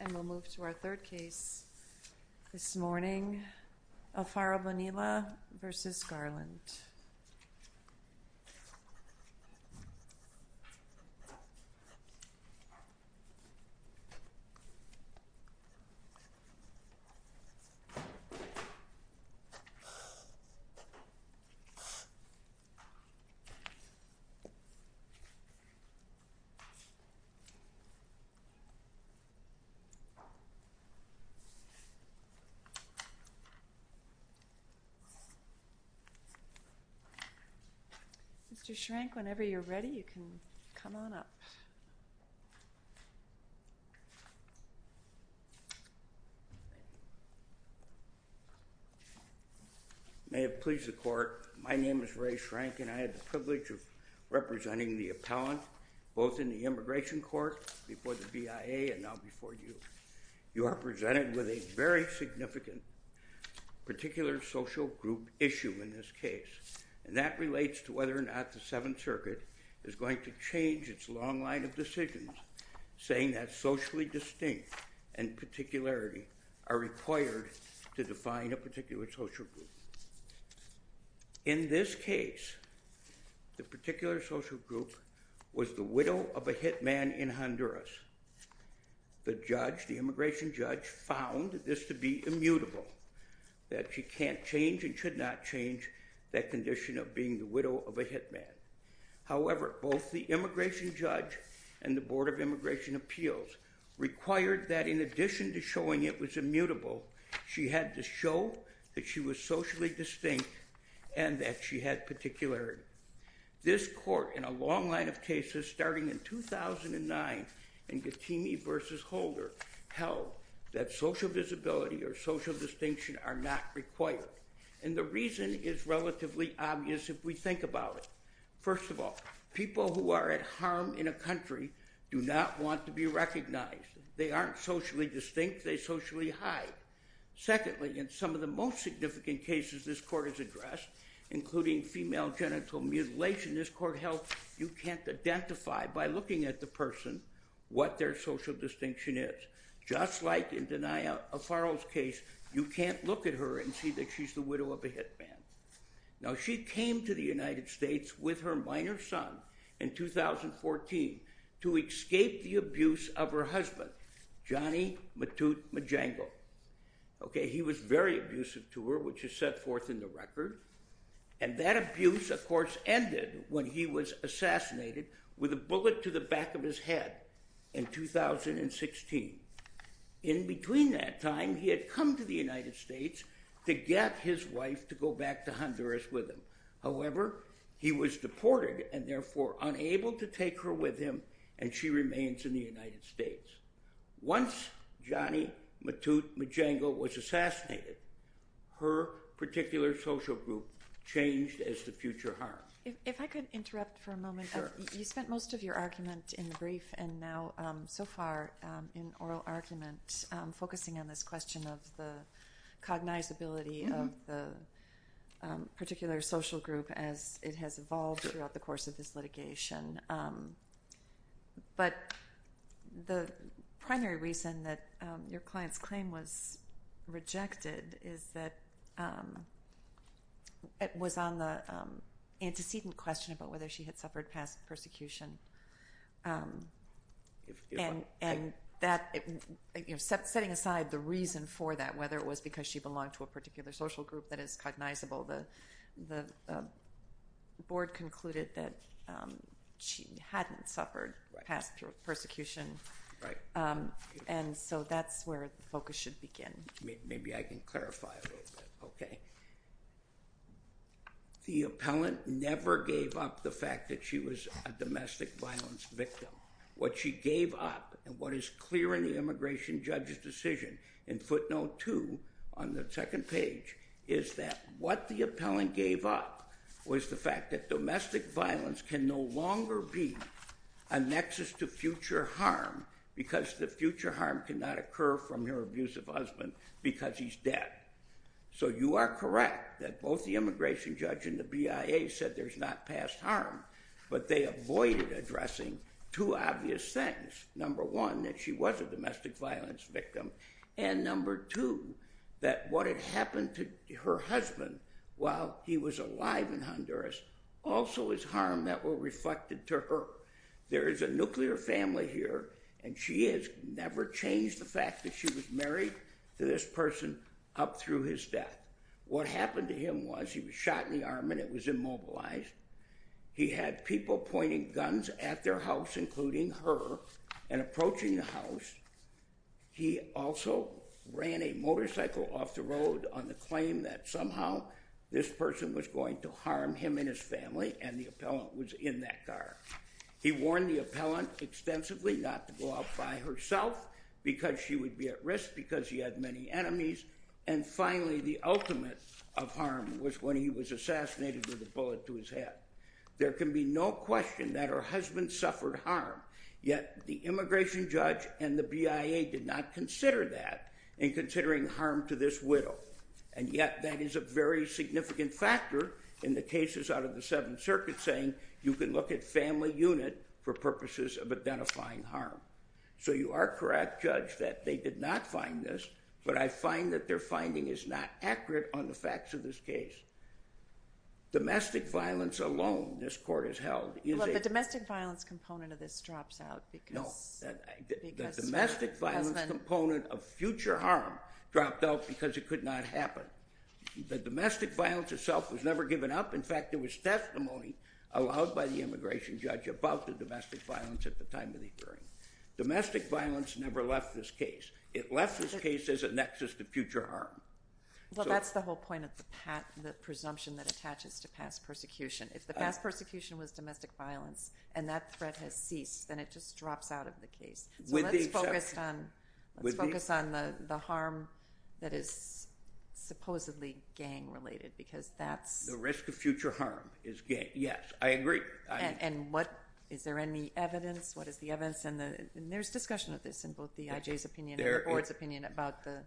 And we'll move to our third case this morning, Alfaro-Bonilla v. Garland. Mr. Schrenk, whenever you're ready, you can come on up. May it please the Court, my name is Ray Schrenk and I have the privilege of representing the You are presented with a very significant particular social group issue in this case. And that relates to whether or not the Seventh Circuit is going to change its long line of decisions saying that socially distinct and particularity are required to define a particular social group. In this case, the particular social group was the widow of a hitman in Honduras. The judge, the immigration judge, found this to be immutable, that she can't change and should not change that condition of being the widow of a hitman. However, both the immigration judge and the Board of Immigration Appeals required that in addition to showing it was immutable, she had to show that she was socially distinct and that she had particularity. This Court, in a long line of cases starting in 2009 in Getimi v. Holder, held that social visibility or social distinction are not required. And the reason is relatively obvious if we think about it. First of all, people who are at harm in a country do not want to be recognized. They aren't socially distinct, they socially hide. Secondly, in some of the most significant cases this Court has addressed, including female genital mutilation, this Court held you can't identify, by looking at the person, what their social distinction is. Just like in Danai Afaro's case, you can't look at her and see that she's the widow of a hitman. Now, she came to the United States with her minor son in 2014 to escape the abuse of her husband, Johnny Matute Majango. He was very abusive to her, which is set forth in the record. And that abuse, of course, ended when he was assassinated with a bullet to the back of his head in 2016. In between that time, he had come to the United States to get his wife to go back to Honduras with him. However, he was deported and therefore unable to take her with him and she remains in the United States. Once Johnny Matute Majango was assassinated, her particular social group changed as to future harm. If I could interrupt for a moment. Sure. You spent most of your argument in the brief and now so far in oral argument focusing on this question of the cognizability of the particular social group as it has evolved throughout the course of this litigation. But the primary reason that your client's claim was rejected is that it was on the antecedent question about whether she had suffered past persecution. And setting aside the reason for that, whether it was because she belonged to a particular social group that is cognizable, the board concluded that she hadn't suffered past persecution. Right. And so that's where the focus should begin. Maybe I can clarify a little bit. Okay. The appellant never gave up the fact that she was a domestic violence victim. What she gave up and what is clear in the immigration judge's decision in footnote two on the second page is that what the appellant gave up was the fact that domestic violence can no longer be a nexus to future harm because the future harm cannot occur from her abusive husband because he's dead. So you are correct that both the immigration judge and the BIA said there's not past harm, but they avoided addressing two obvious things. Number one, that she was a domestic violence victim. And number two, that what had happened to her husband while he was alive in Honduras also is harm that were reflected to her. There is a nuclear family here, and she has never changed the fact that she was married to this person up through his death. What happened to him was he was shot in the arm and it was immobilized. He had people pointing guns at their house, including her, and approaching the house. He also ran a motorcycle off the road on the claim that somehow this person was going to harm him and his family, and the appellant was in that car. He warned the appellant extensively not to go out by herself because she would be at risk because he had many enemies. And finally, the ultimate of harm was when he was assassinated with a bullet to his head. There can be no question that her husband suffered harm, yet the immigration judge and the BIA did not consider that in considering harm to this widow. And yet that is a very significant factor in the cases out of the Seventh Circuit saying you can look at family unit for purposes of identifying harm. So you are correct, Judge, that they did not find this, but I find that their finding is not accurate on the facts of this case. Domestic violence alone this court has held is a... Well, the domestic violence component of this drops out because... No, the domestic violence component of future harm dropped out because it could not happen. The domestic violence itself was never given up. In fact, there was testimony allowed by the immigration judge about the domestic violence at the time of the hearing. Domestic violence never left this case. It left this case as a nexus to future harm. Well, that's the whole point of the presumption that attaches to past persecution. If the past persecution was domestic violence and that threat has ceased, then it just drops out of the case. So let's focus on the harm that is supposedly gang-related because that's... The risk of future harm is gang. Yes, I agree. And is there any evidence? What is the evidence? And there's discussion of this in both the IJ's opinion and the board's opinion about the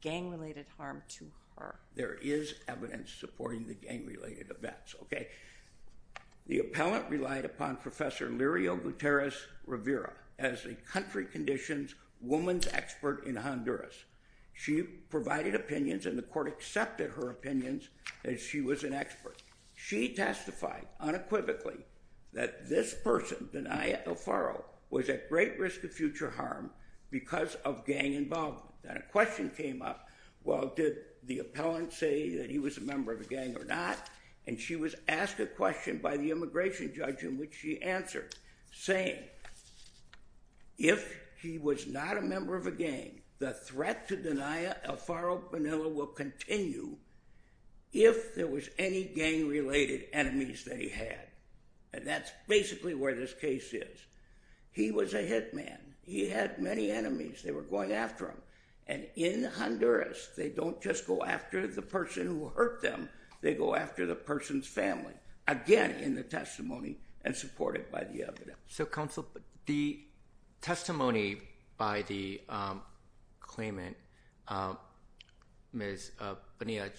gang-related harm to her. There is evidence supporting the gang-related events. The appellant relied upon Professor Lirio Gutierrez-Rivera as a country conditions woman's expert in Honduras. She provided opinions and the court accepted her opinions as she was an expert. She testified unequivocally that this person, Danaya Alfaro, was at great risk of future harm because of gang involvement. Then a question came up, well, did the appellant say that he was a member of a gang or not? And she was asked a question by the immigration judge in which she answered, saying, if he was not a member of a gang, the threat to Danaya Alfaro Bonilla will continue if there was any gang-related enemies that he had. And that's basically where this case is. He was a hit man. He had many enemies. They were going after him. And in Honduras, they don't just go after the person who hurt them. They go after the person's family, again in the testimony and supported by the evidence. So, counsel, the testimony by the claimant, Ms. Bonilla,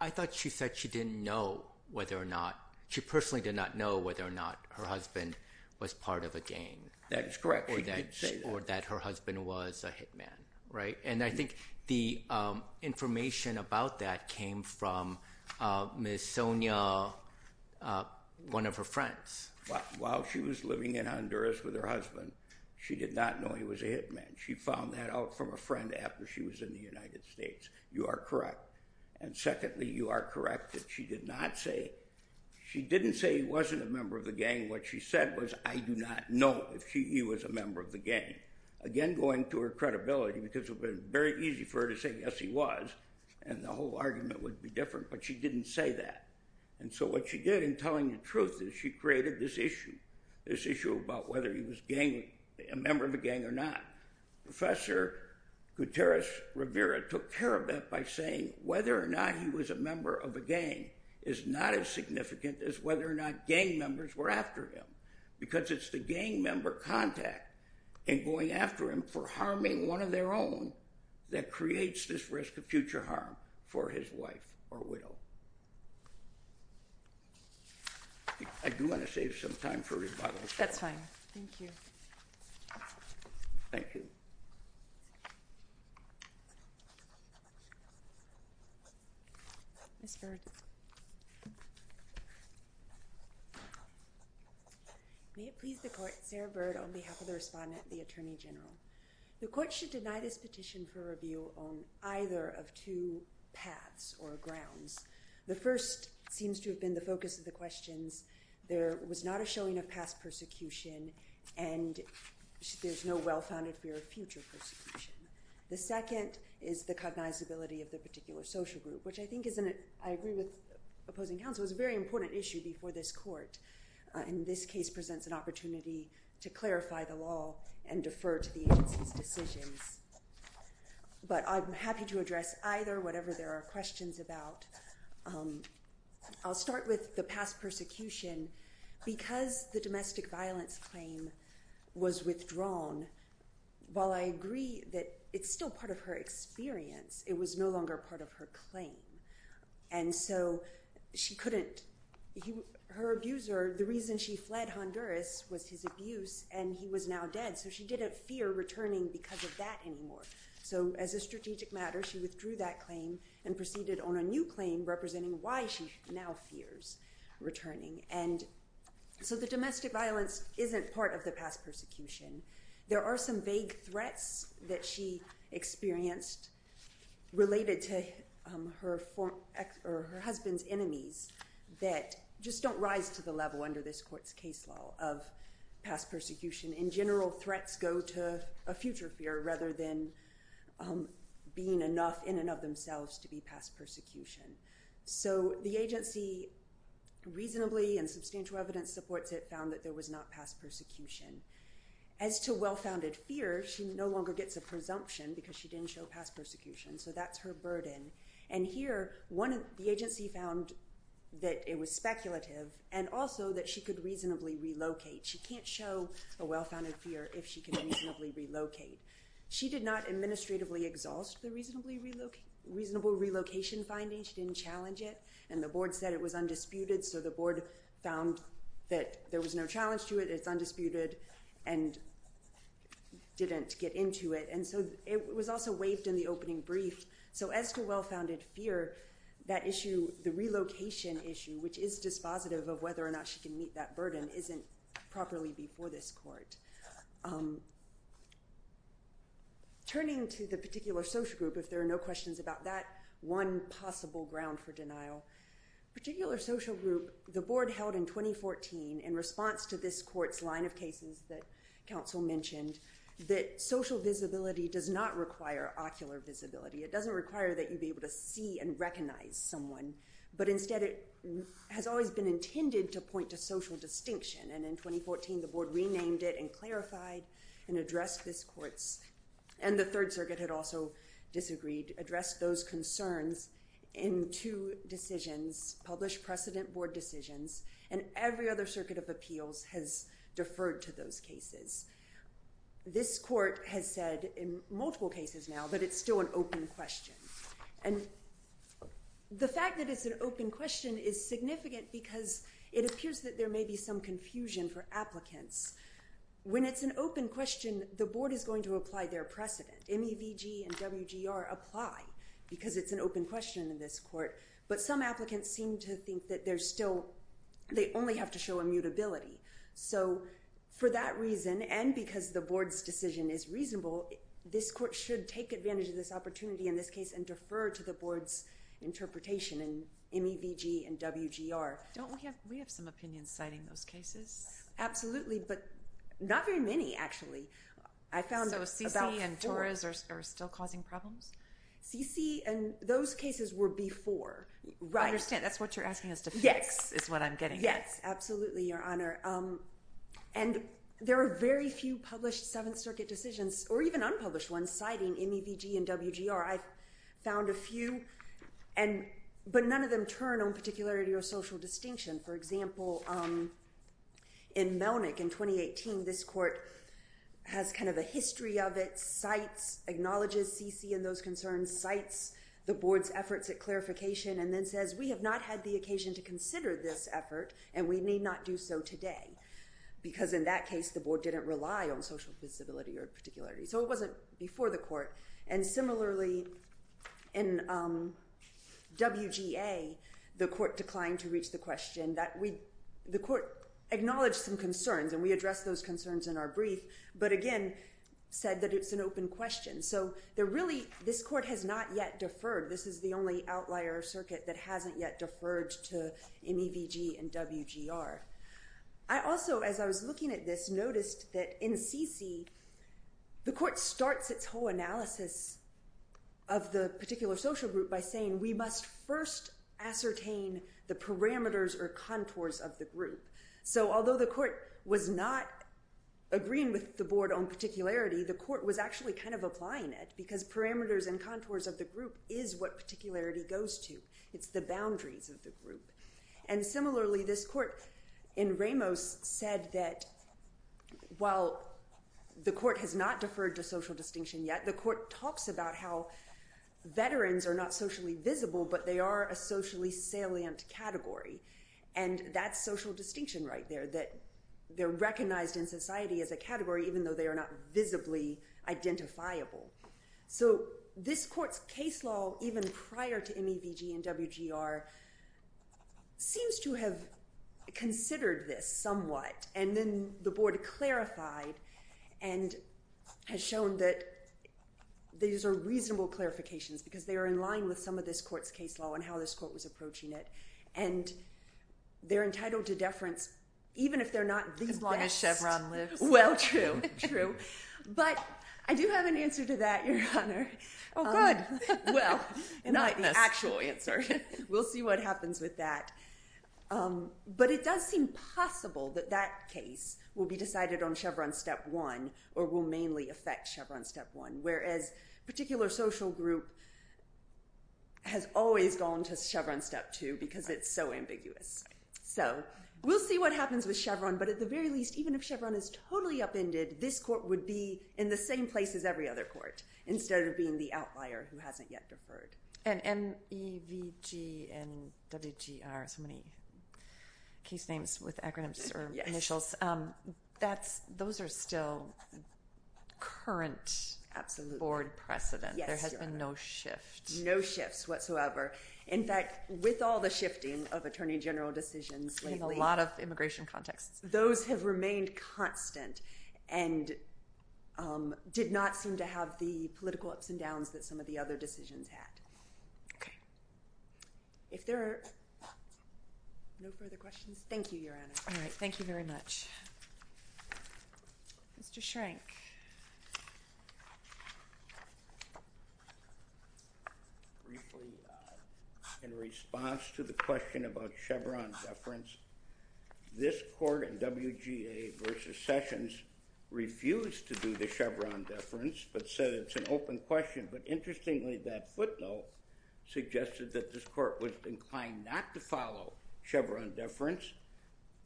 I thought she said she didn't know whether or not, she personally did not know whether or not her husband was part of a gang. That is correct. She did say that. Or that her husband was a hit man, right? And I think the information about that came from Ms. Sonia, one of her friends. While she was living in Honduras with her husband, she did not know he was a hit man. She found that out from a friend after she was in the United States. You are correct. And secondly, you are correct that she did not say, she didn't say he wasn't a member of the gang. What she said was, I do not know if he was a member of the gang. Again, going to her credibility, because it would have been very easy for her to say, yes, he was, and the whole argument would be different, but she didn't say that. And so what she did in telling the truth is she created this issue, this issue about whether he was a member of a gang or not. Professor Gutierrez Rivera took care of that by saying whether or not he was a member of a gang is not as significant as whether or not gang members were after him, because it's the gang member contact and going after him for harming one of their own that creates this risk of future harm for his wife or widow. I do want to save some time for rebuttals. That's fine. Thank you. Thank you. Ms. Bird. May it please the Court, Sarah Bird on behalf of the Respondent and the Attorney General. The Court should deny this petition for review on either of two paths or grounds. The first seems to have been the focus of the questions. There was not a showing of past persecution, and there's no well-founded fear of future persecution. The second is the cognizability of the particular social group, which I think is, and I agree with opposing counsel, is a very important issue before this Court. And this case presents an opportunity to clarify the law and defer to the agency's decisions. But I'm happy to address either, whatever there are questions about. I'll start with the past persecution. Because the domestic violence claim was withdrawn, while I agree that it's still part of her experience, it was no longer part of her claim. And so she couldn't, her abuser, the reason she fled Honduras was his abuse, and he was now dead. So she didn't fear returning because of that anymore. So as a strategic matter, she withdrew that claim and proceeded on a new claim representing why she now fears returning. And so the domestic violence isn't part of the past persecution. There are some vague threats that she experienced related to her husband's enemies that just don't rise to the level under this Court's case law of past persecution. In general, threats go to a future fear rather than being enough in and of themselves to be past persecution. So the agency reasonably and substantial evidence supports it, found that there was not past persecution. As to well-founded fear, she no longer gets a presumption because she didn't show past persecution. So that's her burden. And here, the agency found that it was speculative and also that she could reasonably relocate. She can't show a well-founded fear if she can reasonably relocate. She did not administratively exhaust the reasonable relocation findings. She didn't challenge it. And the Board said it was undisputed, so the Board found that there was no challenge to it. It's undisputed and didn't get into it. And so it was also waived in the opening brief. So as to well-founded fear, that issue, the relocation issue, which is dispositive of whether or not she can meet that burden, isn't properly before this Court. Turning to the particular social group, if there are no questions about that, one possible ground for denial. Particular social group, the Board held in 2014, in response to this Court's line of cases that counsel mentioned, that social visibility does not require ocular visibility. It doesn't require that you be able to see and recognize someone. But instead, it has always been intended to point to social distinction. And in 2014, the Board renamed it and clarified and addressed this Court's, and the Third Circuit had also disagreed, addressed those concerns in two decisions, published precedent Board decisions, and every other circuit of appeals has deferred to those cases. This Court has said in multiple cases now that it's still an open question. And the fact that it's an open question is significant because it appears that there may be some confusion for applicants. When it's an open question, the Board is going to apply their precedent. MEVG and WGR apply because it's an open question in this Court. But some applicants seem to think that they're still, they only have to show immutability. So for that reason, and because the Board's decision is reasonable, this Court should take advantage of this opportunity in this case and defer to the Board's interpretation in MEVG and WGR. Don't we have some opinions citing those cases? Absolutely, but not very many, actually. I found about four. So CC and Torres are still causing problems? CC and those cases were before. I understand. That's what you're asking us to fix is what I'm getting at. Yes, absolutely, Your Honor. And there are very few published Seventh Circuit decisions, or even unpublished ones, citing MEVG and WGR. I've found a few, but none of them turn on particularity or social distinction. For example, in Melnick in 2018, this Court has kind of a history of it, cites, acknowledges CC and those concerns, cites the Board's efforts at clarification, and then says we have not had the occasion to consider this effort, and we need not do so today, because in that case the Board didn't rely on social visibility or particularity. So it wasn't before the Court. And similarly, in WGA, the Court declined to reach the question. The Court acknowledged some concerns, and we addressed those concerns in our brief, but again said that it's an open question. So really this Court has not yet deferred. This is the only outlier circuit that hasn't yet deferred to MEVG and WGR. I also, as I was looking at this, noticed that in CC, the Court starts its whole analysis of the particular social group by saying we must first ascertain the parameters or contours of the group. So although the Court was not agreeing with the Board on particularity, the Court was actually kind of applying it, because parameters and contours of the group is what particularity goes to. It's the boundaries of the group. And similarly, this Court in Ramos said that while the Court has not deferred to social distinction yet, the Court talks about how veterans are not socially visible, but they are a socially salient category. And that's social distinction right there, that they're recognized in society as a category, even though they are not visibly identifiable. So this Court's case law, even prior to MEVG and WGR, seems to have considered this somewhat. And then the Board clarified and has shown that these are reasonable clarifications, because they are in line with some of this Court's case law and how this Court was approaching it. And they're entitled to deference, even if they're not the best. Well, true, true. But I do have an answer to that, Your Honor. Oh, good. Well, not the actual answer. We'll see what happens with that. But it does seem possible that that case will be decided on Chevron Step 1 or will mainly affect Chevron Step 1, whereas a particular social group has always gone to Chevron Step 2, because it's so ambiguous. So we'll see what happens with Chevron, but at the very least, even if Chevron is totally upended, this Court would be in the same place as every other court, instead of being the outlier who hasn't yet deferred. And MEVG and WGR, so many case names with acronyms or initials, those are still current Board precedent. There has been no shift. No shifts whatsoever. In fact, with all the shifting of attorney general decisions lately. In a lot of immigration contexts. Those have remained constant and did not seem to have the political ups and downs that some of the other decisions had. Okay. If there are no further questions, thank you, Your Honor. All right. Thank you very much. Mr. Schrank. Briefly, in response to the question about Chevron deference, this Court and WGA versus Sessions refused to do the Chevron deference, but said it's an open question. But interestingly, that footnote suggested that this Court was inclined not to follow Chevron deference,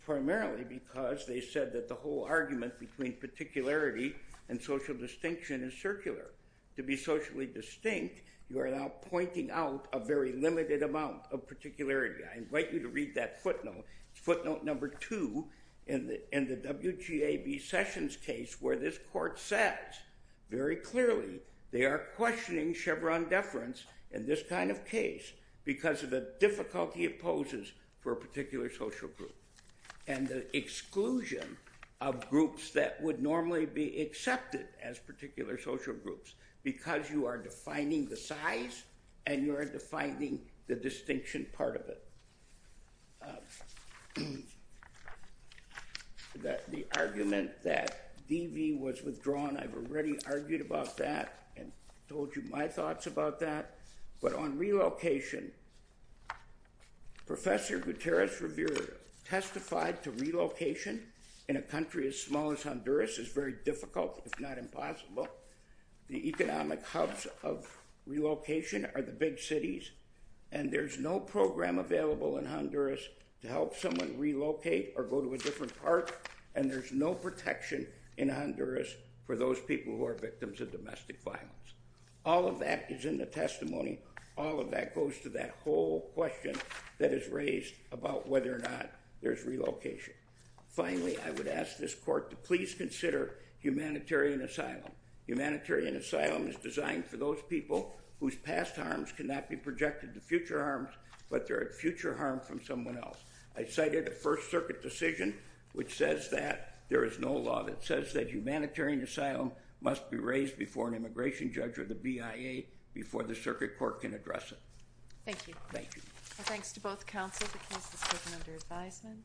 primarily because they said that the whole argument between particularity and social distinction is circular. To be socially distinct, you are now pointing out a very limited amount of particularity. I invite you to read that footnote. It's footnote number two in the WGA versus Sessions case where this Court says very clearly they are questioning Chevron deference in this kind of case because of the difficulty it poses for a particular social group. And the exclusion of groups that would normally be accepted as particular social groups because you are defining the size and you are defining the distinction part of it. The argument that DV was withdrawn, I've already argued about that and told you my thoughts about that. But on relocation, Professor Gutierrez-Rivera testified to relocation in a country as small as Honduras is very difficult, if not impossible. The economic hubs of relocation are the big cities. And there's no program available in Honduras to help someone relocate or go to a different park. And there's no protection in Honduras for those people who are victims of domestic violence. All of that is in the testimony. All of that goes to that whole question that is raised about whether or not there's relocation. Finally, I would ask this Court to please consider humanitarian asylum. Humanitarian asylum is designed for those people whose past harms cannot be projected to future harms, but they're at future harm from someone else. I cited a First Circuit decision which says that there is no law that says that humanitarian asylum must be raised before an immigration judge or the BIA before the Circuit Court can address it. Thank you. Thank you. Well, thanks to both counsel. The case is taken under advisement.